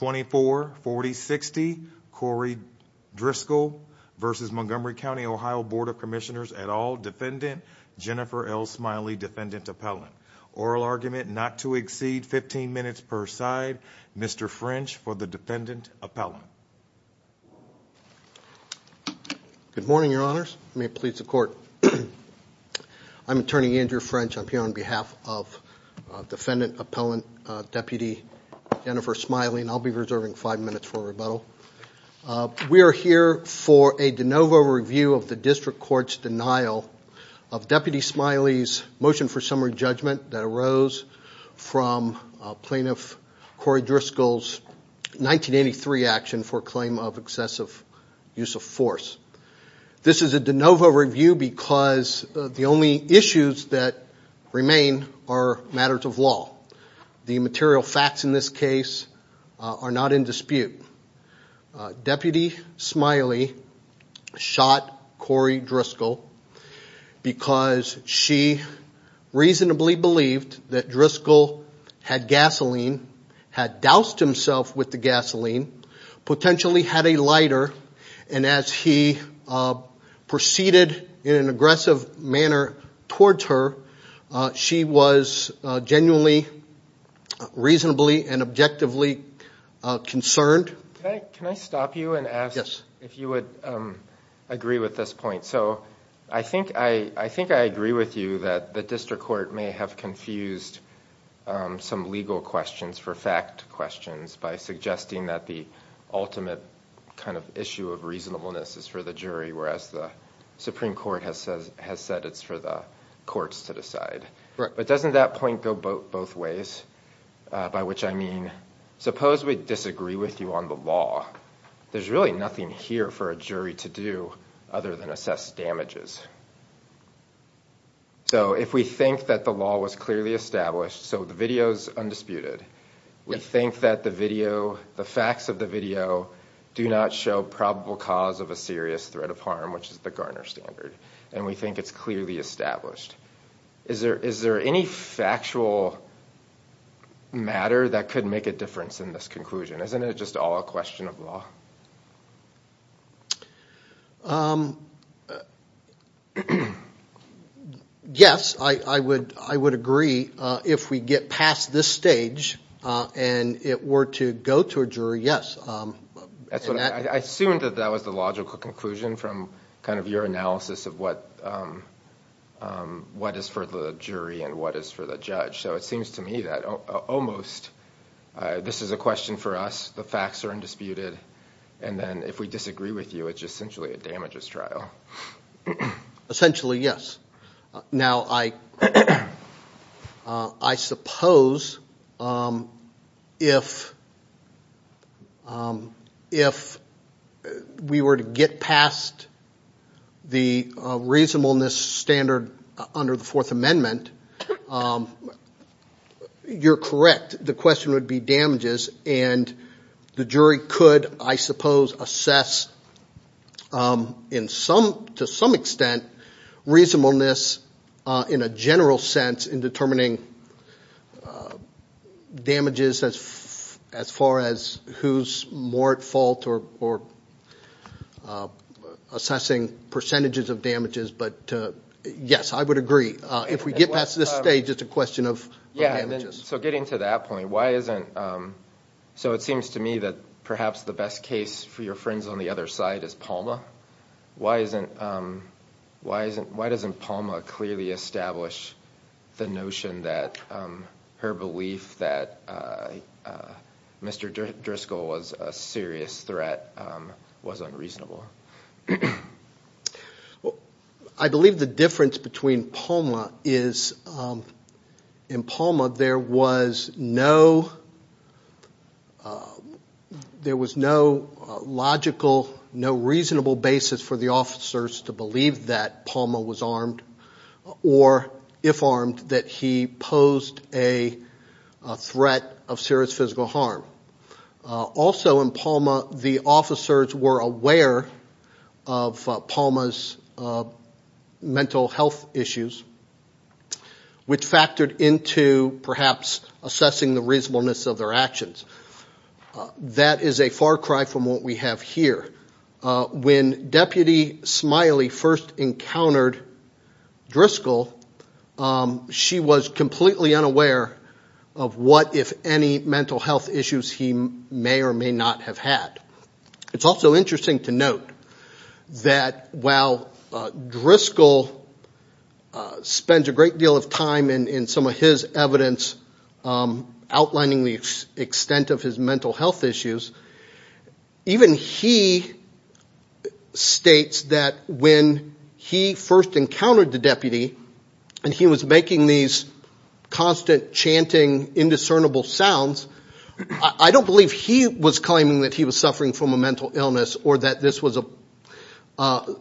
Board of Commissioners, et al., Defendant Jennifer L. Smiley, Defendant Appellant. Oral argument not to exceed 15 minutes per side, Mr. French for the Defendant Appellant. Good morning, your honors, may it please the court, I'm attorney Andrew French, I'm here on behalf of Defendant Appellant Deputy Jennifer Smiley, and I'll be reserving five minutes for rebuttal. We are here for a de novo review of the district court's denial of Deputy Smiley's motion for summary judgment that arose from Plaintiff Cory Driscoll's 1983 action for claim of excessive use of force. This is a de novo review because the only issues that remain are matters of law. The material facts in this case are not in dispute. Deputy Smiley shot Cory Driscoll because she reasonably believed that Driscoll had gasoline, had doused himself with the gasoline, potentially had a lighter, and as he proceeded in an aggressive manner towards her, she was genuinely, reasonably, and objectively concerned. Can I stop you and ask if you would agree with this point? So I think I agree with you that the district court may have confused some legal questions for fact questions by suggesting that the ultimate kind of issue of reasonableness is for the jury, whereas the Supreme Court has said it's for the courts to decide. But doesn't that point go both ways? By which I mean, suppose we disagree with you on the law. There's really nothing here for a jury to do other than assess damages. So if we think that the law was clearly established, so the video's undisputed, we think that the video, the facts of the video, do not show probable cause of a serious threat of harm, which is the Garner Standard, and we think it's clearly established. Is there any factual matter that could make a difference in this conclusion? Isn't it just all a question of law? Yes, I would agree if we get past this stage and it were to go to a jury, yes. I assumed that that was the logical conclusion from kind of your analysis of what is for the jury and what is for the judge. So it seems to me that almost this is a question for us, the facts are undisputed, and then if we disagree with you, it's essentially a damages trial. Essentially yes. Now, I suppose if we were to get past the reasonableness standard under the Fourth Amendment, you're correct, the question would be damages, and the jury could, I suppose, assess to some extent reasonableness in a general sense in determining damages as far as who's more at fault or assessing percentages of damages, but yes, I would agree. If we get past this stage, it's a question of damages. So getting to that point, why isn't, so it seems to me that perhaps the best case for your friends on the other side is Palma. Why doesn't Palma clearly establish the notion that her belief that Mr. Driscoll was a serious threat was unreasonable? I believe the difference between Palma is in Palma there was no logical, no reasonable basis for the officers to believe that Palma was armed or, if armed, that he posed a threat of serious physical harm. Also in Palma, the officers were aware of Palma's mental health issues, which factored into perhaps assessing the reasonableness of their actions. That is a far cry from what we have here. When Deputy Smiley first encountered Driscoll, she was completely unaware of what, if any, mental health issues he may or may not have had. It's also interesting to note that while Driscoll spends a great deal of time in some of his evidence outlining the extent of his mental health issues, even he states that when he first encountered the deputy and he was making these constant chanting, indiscernible sounds, I don't believe he was claiming that he was suffering from a mental illness or that this was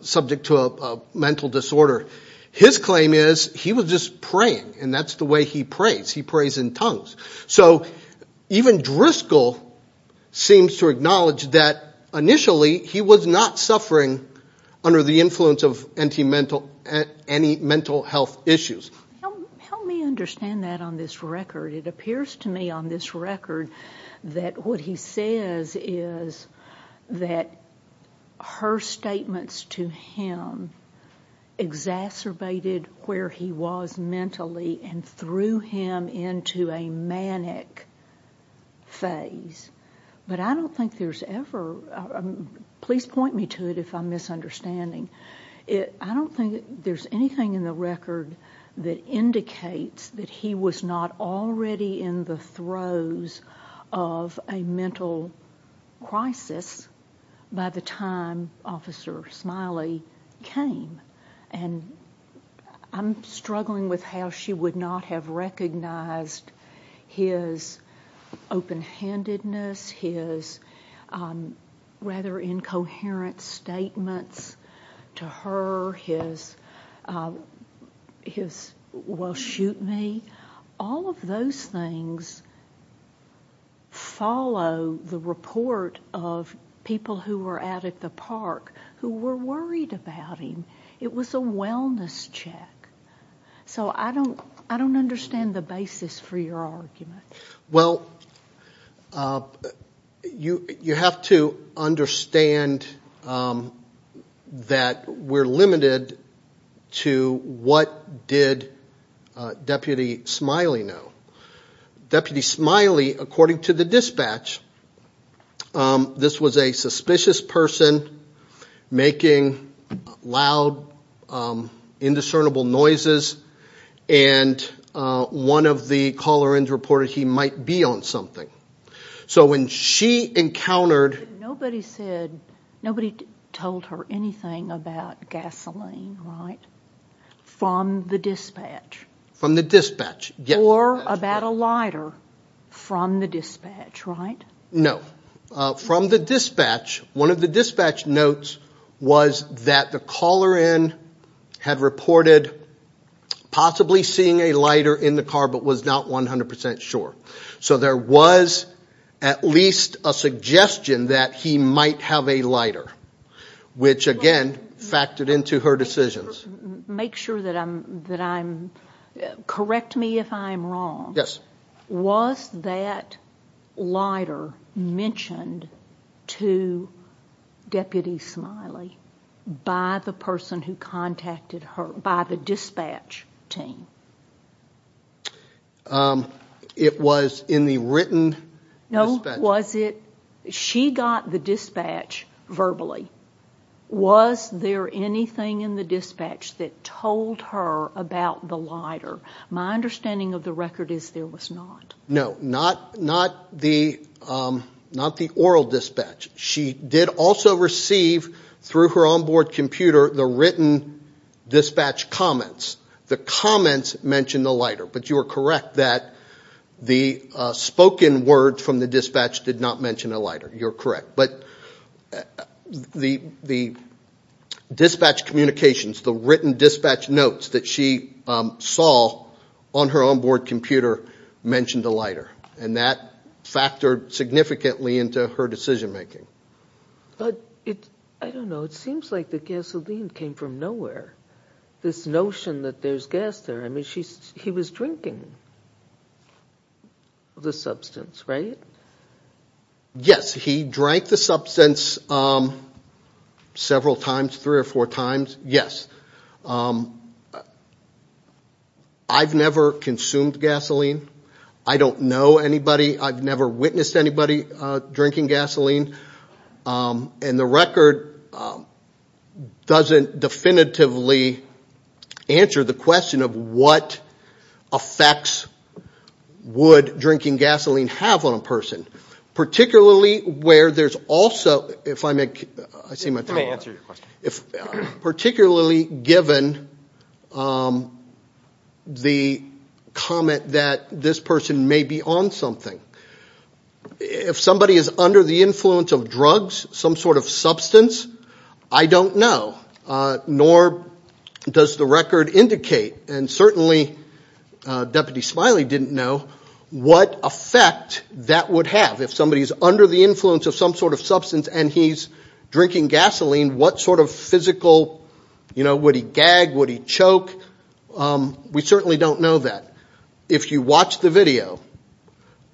subject to a mental disorder. His claim is he was just praying, and that's the way he prays. He prays in tongues. Even Driscoll seems to acknowledge that initially he was not suffering under the influence of any mental health issues. Help me understand that on this record. It appears to me on this record that what he says is that her statements to him exacerbated where he was mentally and threw him into a manic phase. But I don't think there's ever, please point me to it if I'm misunderstanding. I don't think there's anything in the record that indicates that he was not already in the throes of a mental crisis by the time Officer Smiley came. I'm struggling with how she would not have recognized his open-handedness, his rather incoherent statements to her, his, well, shoot me. All of those things follow the report of people who were out at the park who were worried about him. It was a wellness check. So I don't understand the basis for your argument. Well, you have to understand that we're limited to what did Deputy Smiley know. Deputy Smiley, according to the dispatch, this was a suspicious person making loud, indiscernible noises and one of the caller-ins reported he might be on something. So when she encountered... Nobody said, nobody told her anything about gasoline, right? From the dispatch? From the dispatch, yes. Or about a lighter from the dispatch, right? No. From the dispatch, one of the dispatch notes was that the caller-in had reported possibly seeing a lighter in the car but was not 100% sure. So there was at least a suggestion that he might have a lighter, which again factored into her decisions. Make sure that I'm... Correct me if I'm wrong, was that lighter mentioned to Deputy Smiley by the person who contacted her, by the dispatch team? It was in the written dispatch. No, was it... She got the dispatch verbally. Was there anything in the dispatch that told her about the lighter? My understanding of the record is there was not. No, not the oral dispatch. She did also receive, through her on-board computer, the written dispatch comments. The comments mentioned the lighter, but you are correct that the spoken words from the dispatch did not mention a lighter, you are correct. But the dispatch communications, the written dispatch notes that she saw on her on-board computer mentioned the lighter, and that factored significantly into her decision making. But, I don't know, it seems like the gasoline came from nowhere. This notion that there's gas there, I mean, he was drinking the substance, right? Yes, he drank the substance several times, three or four times, yes. I've never consumed gasoline, I don't know anybody, I've never witnessed anybody drinking gasoline, and the record doesn't definitively answer the question of what effects would drinking gasoline have on a person, particularly given the comment that this person may be on something. If somebody is under the influence of drugs, some sort of substance, I don't know, nor does the record indicate, and certainly Deputy Smiley didn't know, what effect that would have. If somebody is under the influence of some sort of substance and he's drinking gasoline, what sort of physical, you know, would he gag, would he choke, we certainly don't know that. If you watch the video,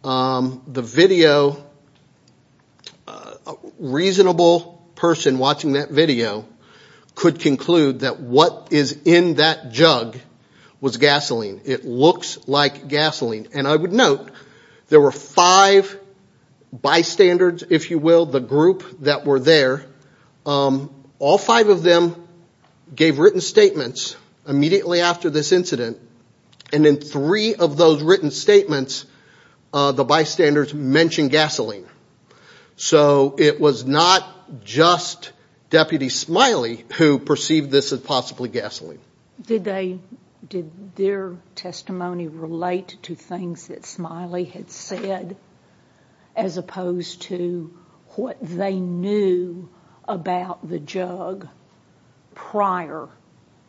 the video, a reasonable person watching that video could conclude that what is in that jug was gasoline. It looks like gasoline. And I would note, there were five bystanders, if you will, the group that were there, all five of them gave written statements immediately after this incident, and in three of those written statements, the bystanders mentioned gasoline. So it was not just Deputy Smiley who perceived this as possibly gasoline. Did their testimony relate to things that Smiley had said, as opposed to what they knew about the jug prior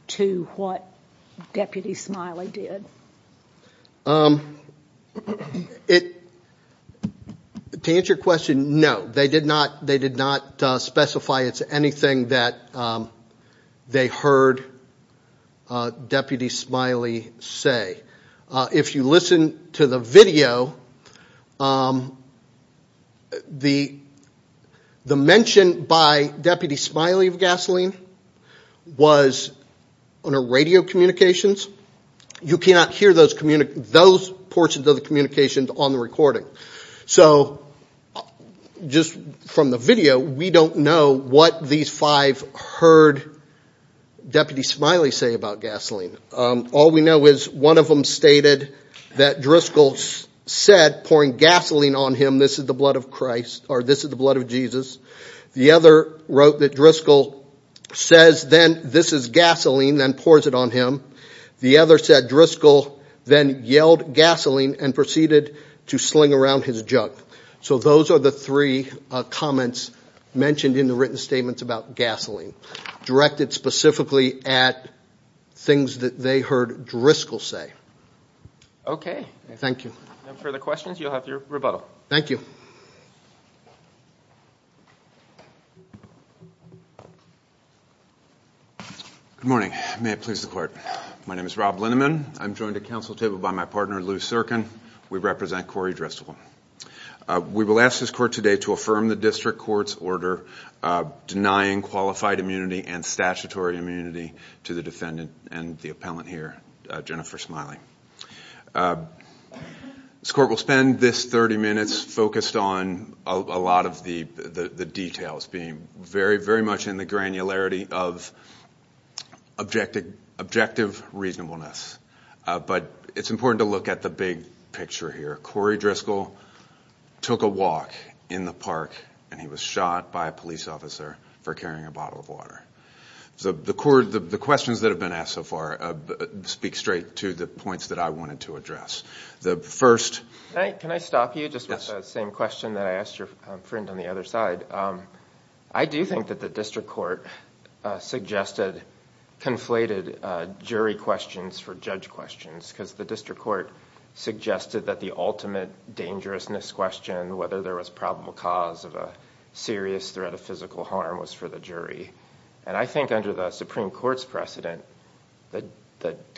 to what Deputy Smiley did? To answer your question, no. They did not specify it's anything that they heard Deputy Smiley say. If you listen to the video, the mention by Deputy Smiley of gasoline was on a radio communications. You cannot hear those portions of the communications on the recording. So just from the video, we don't know what these five heard Deputy Smiley say about gasoline. All we know is one of them stated that Driscoll said, pouring gasoline on him, this is the blood of Christ, or this is the blood of Jesus. The other wrote that Driscoll says then this is gasoline, then pours it on him. The other said Driscoll then yelled gasoline and proceeded to sling around his jug. So those are the three comments mentioned in the written statements about gasoline, directed specifically at things that they heard Driscoll say. Thank you. If there are no further questions, you'll have your rebuttal. Thank you. Good morning. May it please the Court. My name is Rob Linneman. I'm joined at Council table by my partner, Lou Serkin. We represent Corey Driscoll. We will ask this Court today to affirm the District Court's order denying qualified immunity and statutory immunity to the defendant and the appellant here, Jennifer Smiley. This Court will spend this 30 minutes focused on a lot of the details, being very, very much in the granularity of objective reasonableness. But it's important to look at the big picture here. Corey Driscoll took a walk in the park, and he was shot by a police officer for carrying a bottle of water. The questions that have been asked so far speak straight to the points that I wanted to address. The first... Can I stop you just with the same question that I asked your friend on the other side? I do think that the District Court suggested conflated jury questions for judge questions because the District Court suggested that the ultimate dangerousness question, whether there was probable cause of a serious threat of physical harm, was for the jury. And I think under the Supreme Court's precedent, the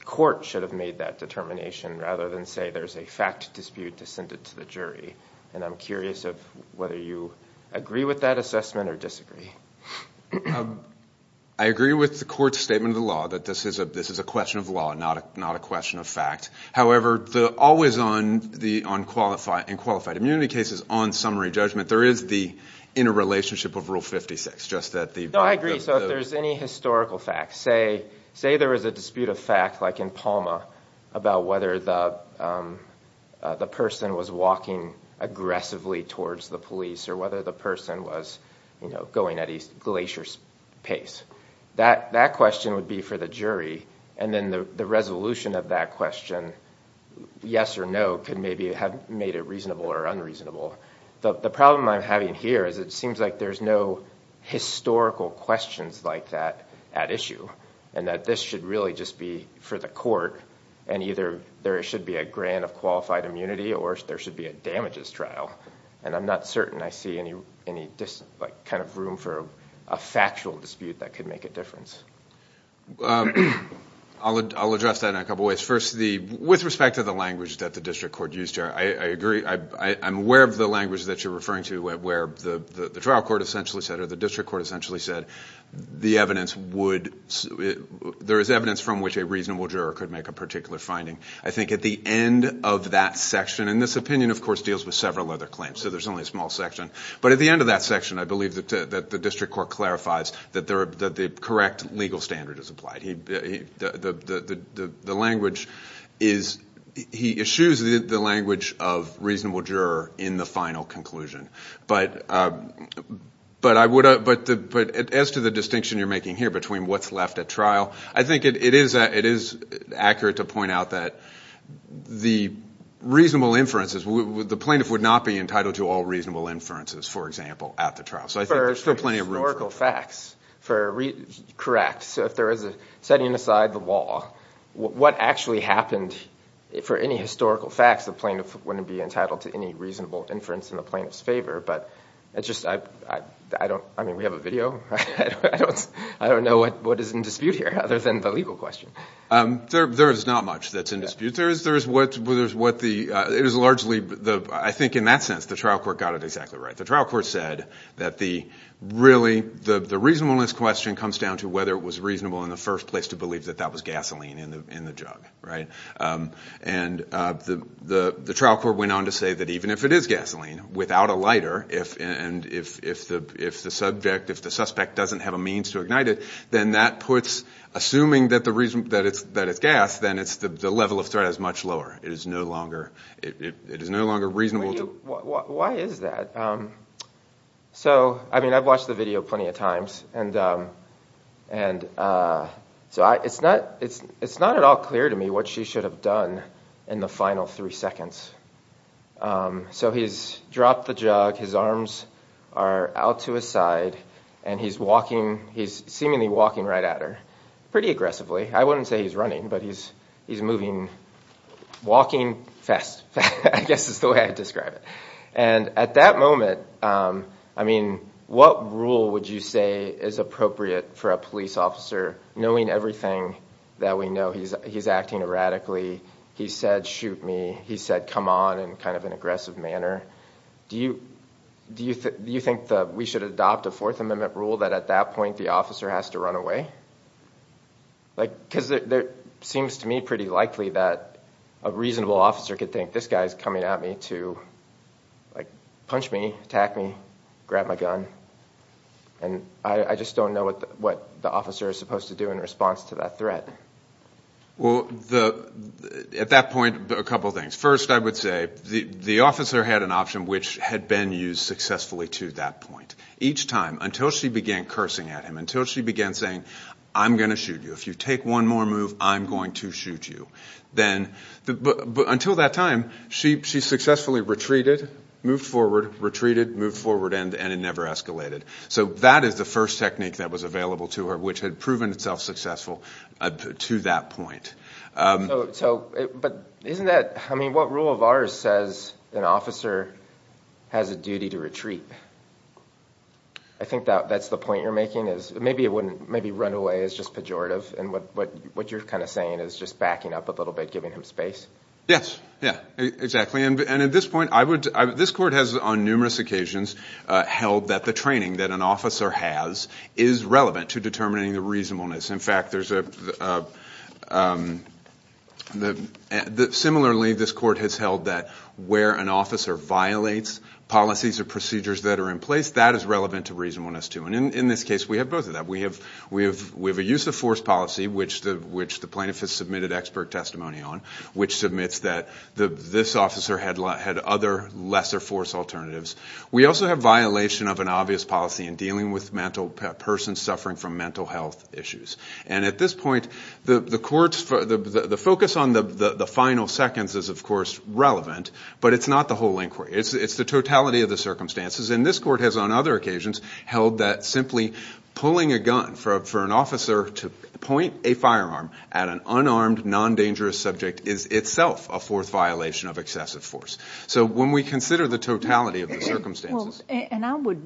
Court should have made that determination rather than say there's a fact dispute to send it to the jury. And I'm curious of whether you agree with that assessment or disagree. I agree with the Court's statement of the law that this is a question of law, not a question of fact. However, always on qualified immunity cases, on summary judgment, there is the interrelationship of Rule 56. I agree. So if there's any historical fact, say there was a dispute of fact like in Palma about whether the person was walking aggressively towards the police or whether the person was going at a glacier's pace, that question would be for the jury. And then the resolution of that question, yes or no, could maybe have made it reasonable or unreasonable. The problem I'm having here is it seems like there's no historical questions like that at issue and that this should really just be for the Court and either there should be a grant of qualified immunity or there should be a damages trial. And I'm not certain I see any kind of room for a factual dispute that could make a difference. I'll address that in a couple of ways. First, with respect to the language that the district court used here, I agree. I'm aware of the language that you're referring to where the trial court essentially said or the district court essentially said there is evidence from which a reasonable juror could make a particular finding. I think at the end of that section, and this opinion, of course, deals with several other claims, so there's only a small section. But at the end of that section, I believe that the district court clarifies that the correct legal standard is applied. The language is he eschews the language of reasonable juror in the final conclusion. But as to the distinction you're making here between what's left at trial, I think it is accurate to point out that the reasonable inferences, the plaintiff would not be entitled to all reasonable inferences, for example, at the trial. So I think there's still plenty of room for that. For historical facts, correct. So if there is a setting aside the law, what actually happened for any historical facts, the plaintiff wouldn't be entitled to any reasonable inference in the plaintiff's favor. But I mean, we have a video. I don't know what is in dispute here other than the legal question. There is not much that's in dispute. I think in that sense the trial court got it exactly right. The trial court said that really the reasonableness question comes down to whether it was reasonable in the first place to believe that that was gasoline in the jug, right? And the trial court went on to say that even if it is gasoline, without a lighter, and if the subject, if the suspect doesn't have a means to ignite it, then that puts assuming that it's gas, then the level of threat is much lower. It is no longer reasonable. Why is that? So, I mean, I've watched the video plenty of times, and so it's not at all clear to me what she should have done in the final three seconds. So he's dropped the jug, his arms are out to his side, and he's walking. He's seemingly walking right at her, pretty aggressively. I wouldn't say he's running, but he's moving, walking fast. I guess is the way I'd describe it. And at that moment, I mean, what rule would you say is appropriate for a police officer, knowing everything that we know? He's acting erratically. He said, shoot me. He said, come on, in kind of an aggressive manner. Do you think that we should adopt a Fourth Amendment rule that at that point the officer has to run away? Because it seems to me pretty likely that a reasonable officer could think, this guy is coming at me to punch me, attack me, grab my gun, and I just don't know what the officer is supposed to do in response to that threat. Well, at that point, a couple of things. First, I would say the officer had an option which had been used successfully to that point. Each time, until she began cursing at him, until she began saying, I'm going to shoot you. If you take one more move, I'm going to shoot you. Until that time, she successfully retreated, moved forward, retreated, moved forward, and it never escalated. So that is the first technique that was available to her, which had proven itself successful to that point. But what rule of ours says an officer has a duty to retreat? I think that's the point you're making is maybe run away is just pejorative, and what you're kind of saying is just backing up a little bit, giving him space. Yes, exactly. At this point, this court has on numerous occasions held that the training that an officer has is relevant to determining the reasonableness. In fact, similarly, this court has held that where an officer violates policies or procedures that are in place, that is relevant to reasonableness, too. And in this case, we have both of that. We have a use of force policy, which the plaintiff has submitted expert testimony on, which submits that this officer had other lesser force alternatives. We also have violation of an obvious policy in dealing with persons suffering from mental health issues. And at this point, the focus on the final seconds is, of course, relevant, but it's not the whole inquiry. It's the totality of the circumstances. And this court has on other occasions held that simply pulling a gun for an officer to point a firearm at an unarmed, non-dangerous subject is itself a fourth violation of excessive force. So when we consider the totality of the circumstances. And I would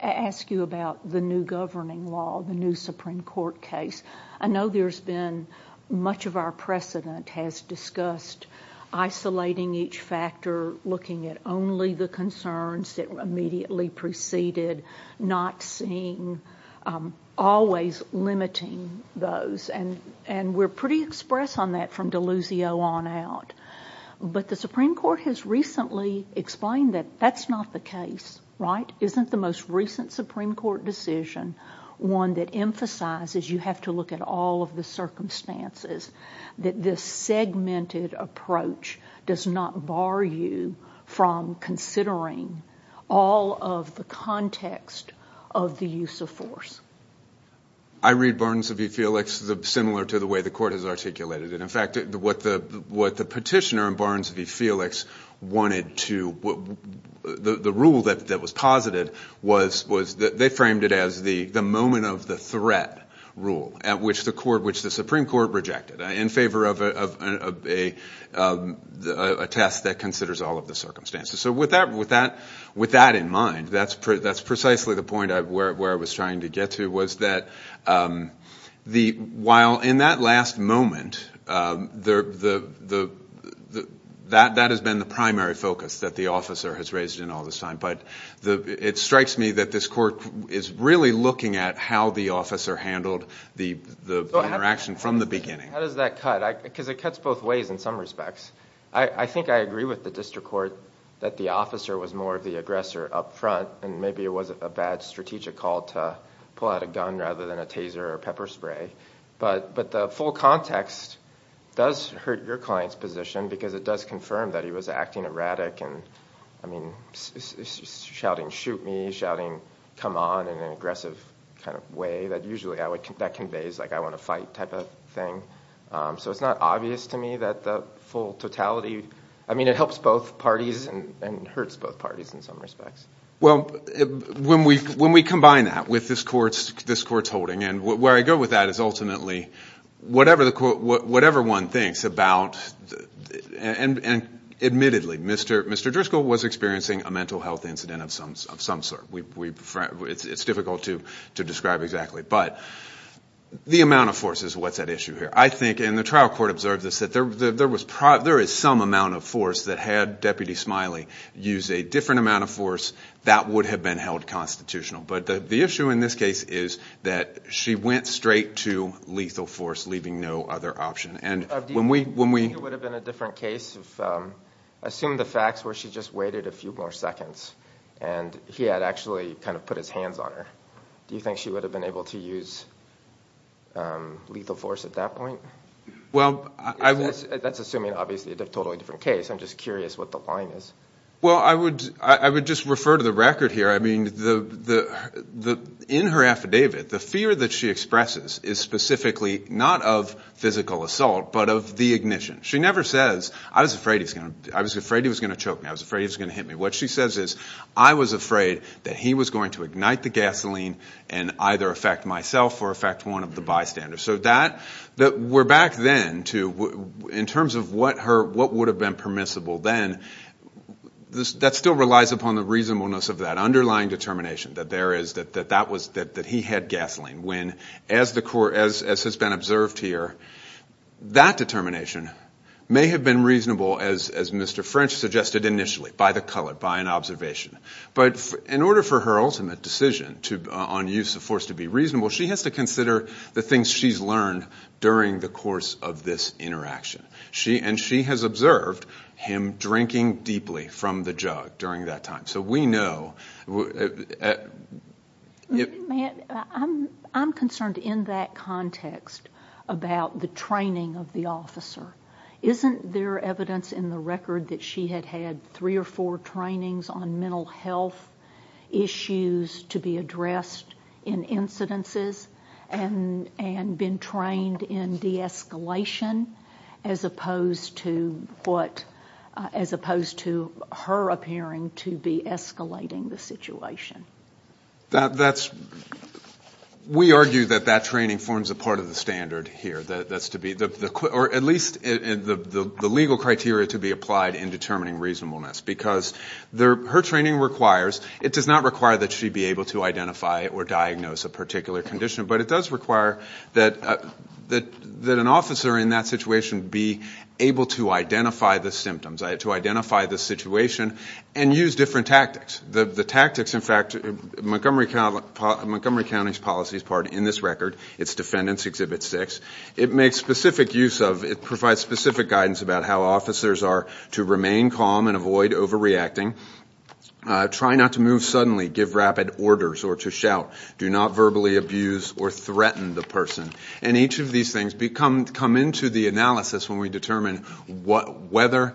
ask you about the new governing law, the new Supreme Court case. I know there's been much of our precedent has discussed isolating each factor, looking at only the concerns that immediately preceded, not seeing, always limiting those. And we're pretty express on that from Deluzio on out. But the Supreme Court has recently explained that that's not the case, right? Isn't the most recent Supreme Court decision one that emphasizes you have to look at all of the circumstances, that this segmented approach does not bar you from considering all of the context of the use of force? I read Barnes v. Felix similar to the way the court has articulated it. In fact, what the petitioner in Barnes v. Felix wanted to, the rule that was posited, they framed it as the moment of the threat rule, which the Supreme Court rejected, in favor of a test that considers all of the circumstances. So with that in mind, that's precisely the point where I was trying to get to, was that while in that last moment, that has been the primary focus that the officer has raised in all this time. But it strikes me that this court is really looking at how the officer handled the interaction from the beginning. How does that cut? Because it cuts both ways in some respects. I think I agree with the district court that the officer was more of the aggressor up front, and maybe it was a bad strategic call to pull out a gun rather than a taser or pepper spray. But the full context does hurt your client's position because it does confirm that he was acting erratic, shouting, shoot me, shouting, come on, in an aggressive kind of way that usually conveys I want to fight type of thing. So it's not obvious to me that the full totality, I mean it helps both parties and hurts both parties in some respects. Well, when we combine that with this court's holding, and where I go with that is ultimately, whatever one thinks about, and admittedly, Mr. Driscoll was experiencing a mental health incident of some sort. It's difficult to describe exactly. But the amount of force is what's at issue here. I think, and the trial court observed this, that there is some amount of force that had Deputy Smiley use a different amount of force that would have been held constitutional. But the issue in this case is that she went straight to lethal force, leaving no other option. Do you think it would have been a different case if, assume the facts, where she just waited a few more seconds, and he had actually kind of put his hands on her. Do you think she would have been able to use lethal force at that point? That's assuming, obviously, a totally different case. I'm just curious what the line is. Well, I would just refer to the record here. I mean, in her affidavit, the fear that she expresses is specifically not of physical assault, but of the ignition. She never says, I was afraid he was going to choke me. I was afraid he was going to hit me. What she says is, I was afraid that he was going to ignite the gasoline and either affect myself or affect one of the bystanders. So we're back then to, in terms of what would have been permissible then, that still relies upon the reasonableness of that, underlying determination that he had gasoline. When, as has been observed here, that determination may have been reasonable, as Mr. French suggested initially, by the color, by an observation. But in order for her ultimate decision on use of force to be reasonable, she has to consider the things she's learned during the course of this interaction. And she has observed him drinking deeply from the jug during that time. So we know. I'm concerned in that context about the training of the officer. Isn't there evidence in the record that she had had three or four trainings on mental health issues to be addressed in incidences and been trained in de-escalation as opposed to her appearing to be escalating the situation? That's, we argue that that training forms a part of the standard here. That's to be, or at least the legal criteria to be applied in determining reasonableness. Because her training requires, it does not require that she be able to identify or diagnose a particular condition, but it does require that an officer in that situation be able to identify the symptoms, to identify the situation and use different tactics. The tactics, in fact, Montgomery County's policy is part in this record. It's Defendants Exhibit 6. It makes specific use of, it provides specific guidance about how officers are to remain calm and avoid overreacting, try not to move suddenly, give rapid orders, or to shout, do not verbally abuse or threaten the person. And each of these things come into the analysis when we determine whether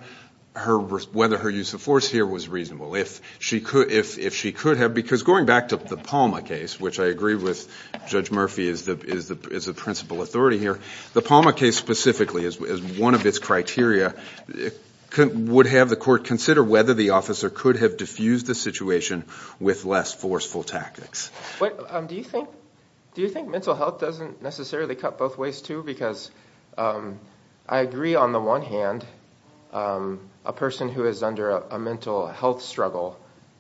her use of force here was reasonable. If she could have, because going back to the Palma case, which I agree with Judge Murphy is the principal authority here, the Palma case specifically is one of its criteria, would have the court consider whether the officer could have diffused the situation with less forceful tactics. Do you think mental health doesn't necessarily cut both ways too? I agree on the one hand, a person who is under a mental health struggle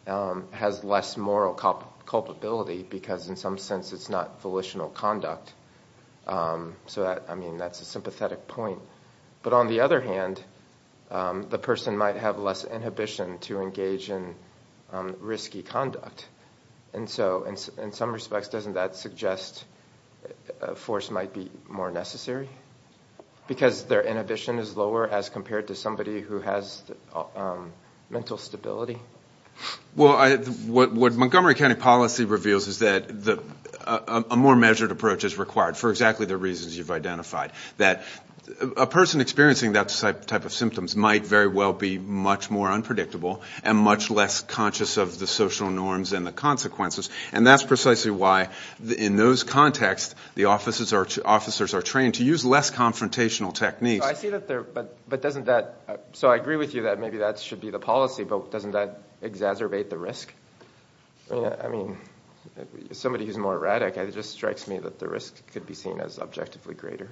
has less moral culpability because in some sense it's not volitional conduct. So that's a sympathetic point. But on the other hand, the person might have less inhibition to engage in risky conduct. And so in some respects doesn't that suggest force might be more necessary? Because their inhibition is lower as compared to somebody who has mental stability? Well, what Montgomery County policy reveals is that a more measured approach is required for exactly the reasons you've identified. That a person experiencing that type of symptoms might very well be much more unpredictable and much less conscious of the social norms and the consequences. And that's precisely why in those contexts the officers are trained to use less confrontational techniques. So I agree with you that maybe that should be the policy, but doesn't that exacerbate the risk? I mean, somebody who's more erratic, it just strikes me that the risk could be seen as objectively greater.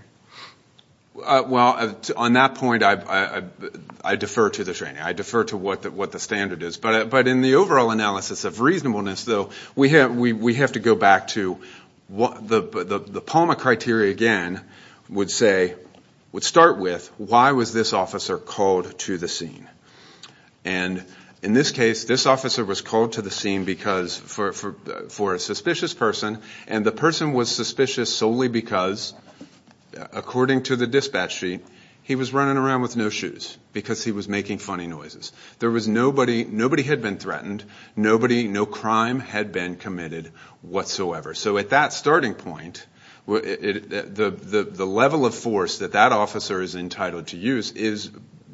Well, on that point I defer to the training. I defer to what the standard is. But in the overall analysis of reasonableness, though, we have to go back to the Palmer criteria again would say, would start with why was this officer called to the scene? And in this case, this officer was called to the scene for a suspicious person, and the person was suspicious solely because, according to the dispatch sheet, he was running around with no shoes because he was making funny noises. Nobody had been threatened. Nobody, no crime had been committed whatsoever. So at that starting point, the level of force that that officer is entitled to use is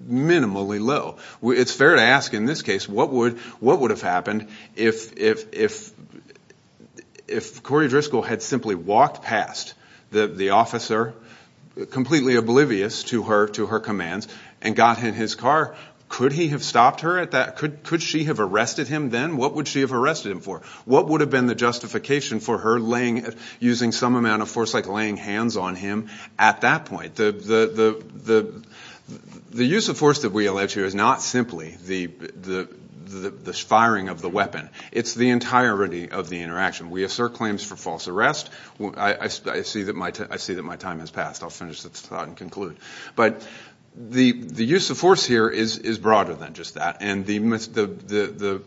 minimally low. It's fair to ask, in this case, what would have happened if Corey Driscoll had simply walked past the officer, completely oblivious to her commands, and got in his car? Could he have stopped her at that? Could she have arrested him then? What would she have arrested him for? What would have been the justification for her using some amount of force like laying hands on him at that point? The use of force that we allege here is not simply the firing of the weapon. It's the entirety of the interaction. We assert claims for false arrest. I see that my time has passed. I'll finish this thought and conclude. But the use of force here is broader than just that, and the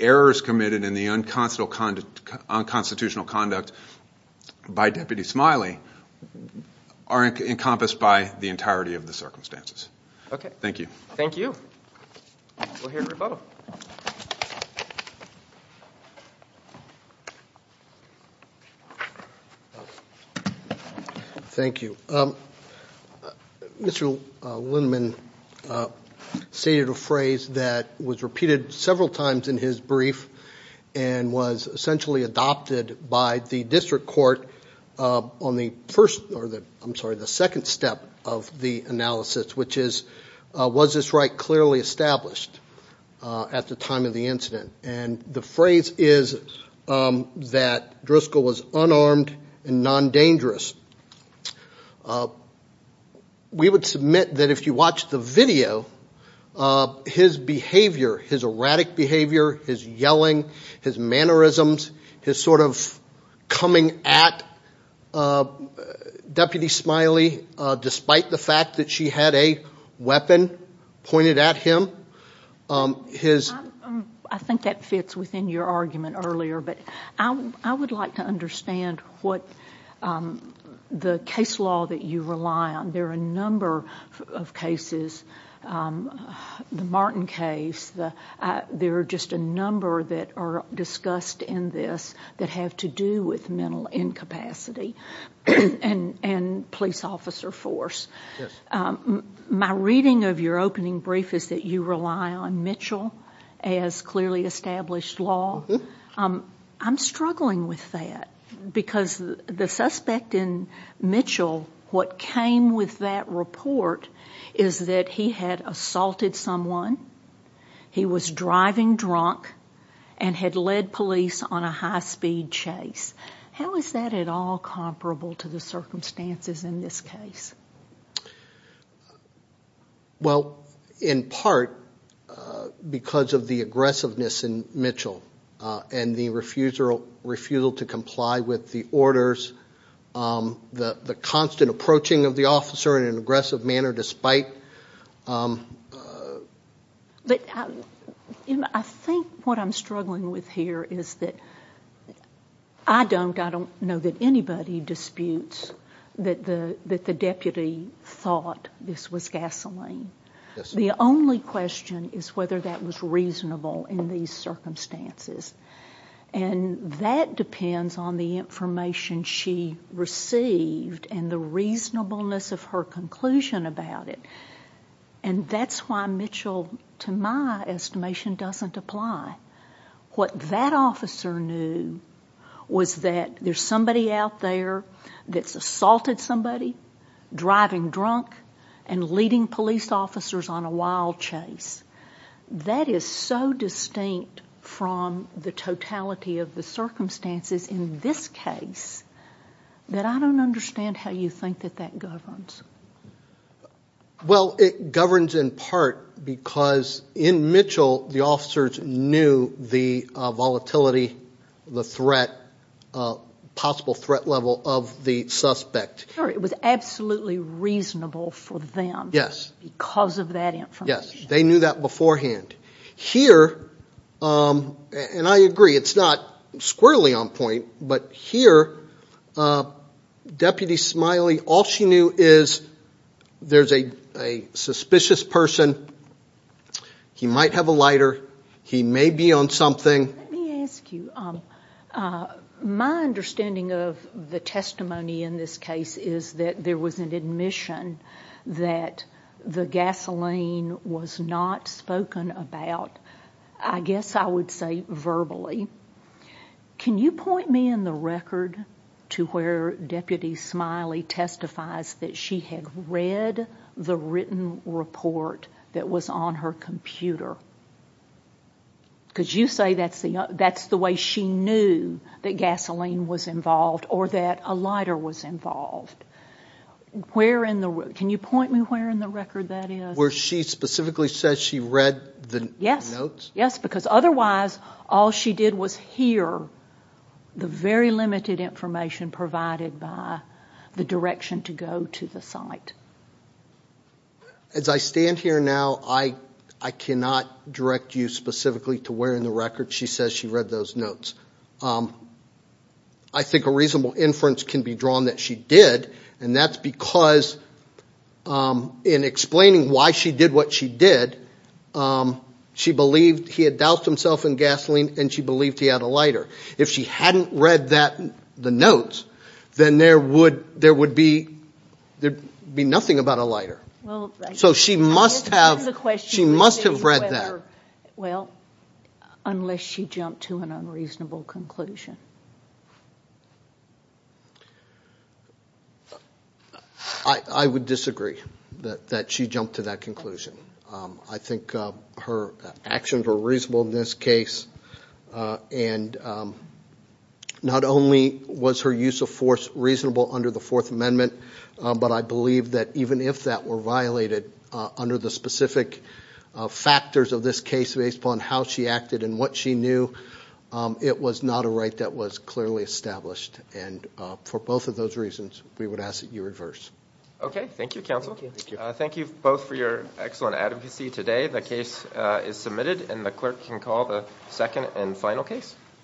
errors committed in the unconstitutional conduct by Deputy Smiley are encompassed by the entirety of the circumstances. Thank you. Thank you. We'll hear a rebuttal. Thank you. Mr. Lindemann stated a phrase that was repeated several times in his brief and was essentially adopted by the district court on the second step of the analysis, which is, was this right clearly established at the time of the incident? And the phrase is that Driscoll was unarmed and non-dangerous. We would submit that if you watch the video, his behavior, his erratic behavior, his yelling, his mannerisms, his sort of coming at Deputy Smiley despite the fact that she had a weapon pointed at him. I think that fits within your argument earlier, but I would like to understand what the case law that you rely on. There are a number of cases, the Martin case. There are just a number that are discussed in this that have to do with mental incapacity and police officer force. My reading of your opening brief is that you rely on Mitchell as clearly established law. I'm struggling with that because the suspect in Mitchell, what came with that report, is that he had assaulted someone, he was driving drunk, and had led police on a high-speed chase. How is that at all comparable to the circumstances in this case? Well, in part because of the aggressiveness in Mitchell and the refusal to comply with the orders, the constant approaching of the officer in an aggressive manner despite. I think what I'm struggling with here is that I don't know that anybody disputes that the deputy thought this was gasoline. The only question is whether that was reasonable in these circumstances. That depends on the information she received and the reasonableness of her conclusion about it. That's why Mitchell, to my estimation, doesn't apply. What that officer knew was that there's somebody out there that's assaulted somebody, driving drunk, and leading police officers on a wild chase. That is so distinct from the totality of the circumstances in this case that I don't understand how you think that that governs. Well, it governs in part because in Mitchell the officers knew the volatility, the threat, possible threat level of the suspect. It was absolutely reasonable for them because of that information. Yes, they knew that beforehand. Here, and I agree, it's not squarely on point, but here, Deputy Smiley, all she knew is there's a suspicious person, he might have a lighter, he may be on something. Let me ask you, my understanding of the testimony in this case is that there was an admission that the gasoline was not spoken about, I guess I would say, verbally. Can you point me in the record to where Deputy Smiley testifies that she had read the written report that was on her computer? Because you say that's the way she knew that gasoline was involved or that a lighter was involved. Can you point me where in the record that is? Where she specifically says she read the notes? Yes, because otherwise all she did was hear the very limited information provided by the direction to go to the site. As I stand here now, I cannot direct you specifically to where in the record she says she read those notes. I think a reasonable inference can be drawn that she did, and that's because in explaining why she did what she did, she believed he had doused himself in gasoline and she believed he had a lighter. If she hadn't read the notes, then there would be nothing about a lighter. So she must have read that. Unless she jumped to an unreasonable conclusion. I would disagree that she jumped to that conclusion. I think her actions were reasonable in this case, and not only was her use of force reasonable under the Fourth Amendment, but I believe that even if that were violated under the specific factors of this case, based upon how she acted and what she knew, it was not a right that was clearly established. And for both of those reasons, we would ask that you reverse. Okay. Thank you, counsel. Thank you both for your excellent advocacy today. The case is submitted, and the clerk can call the second and final case.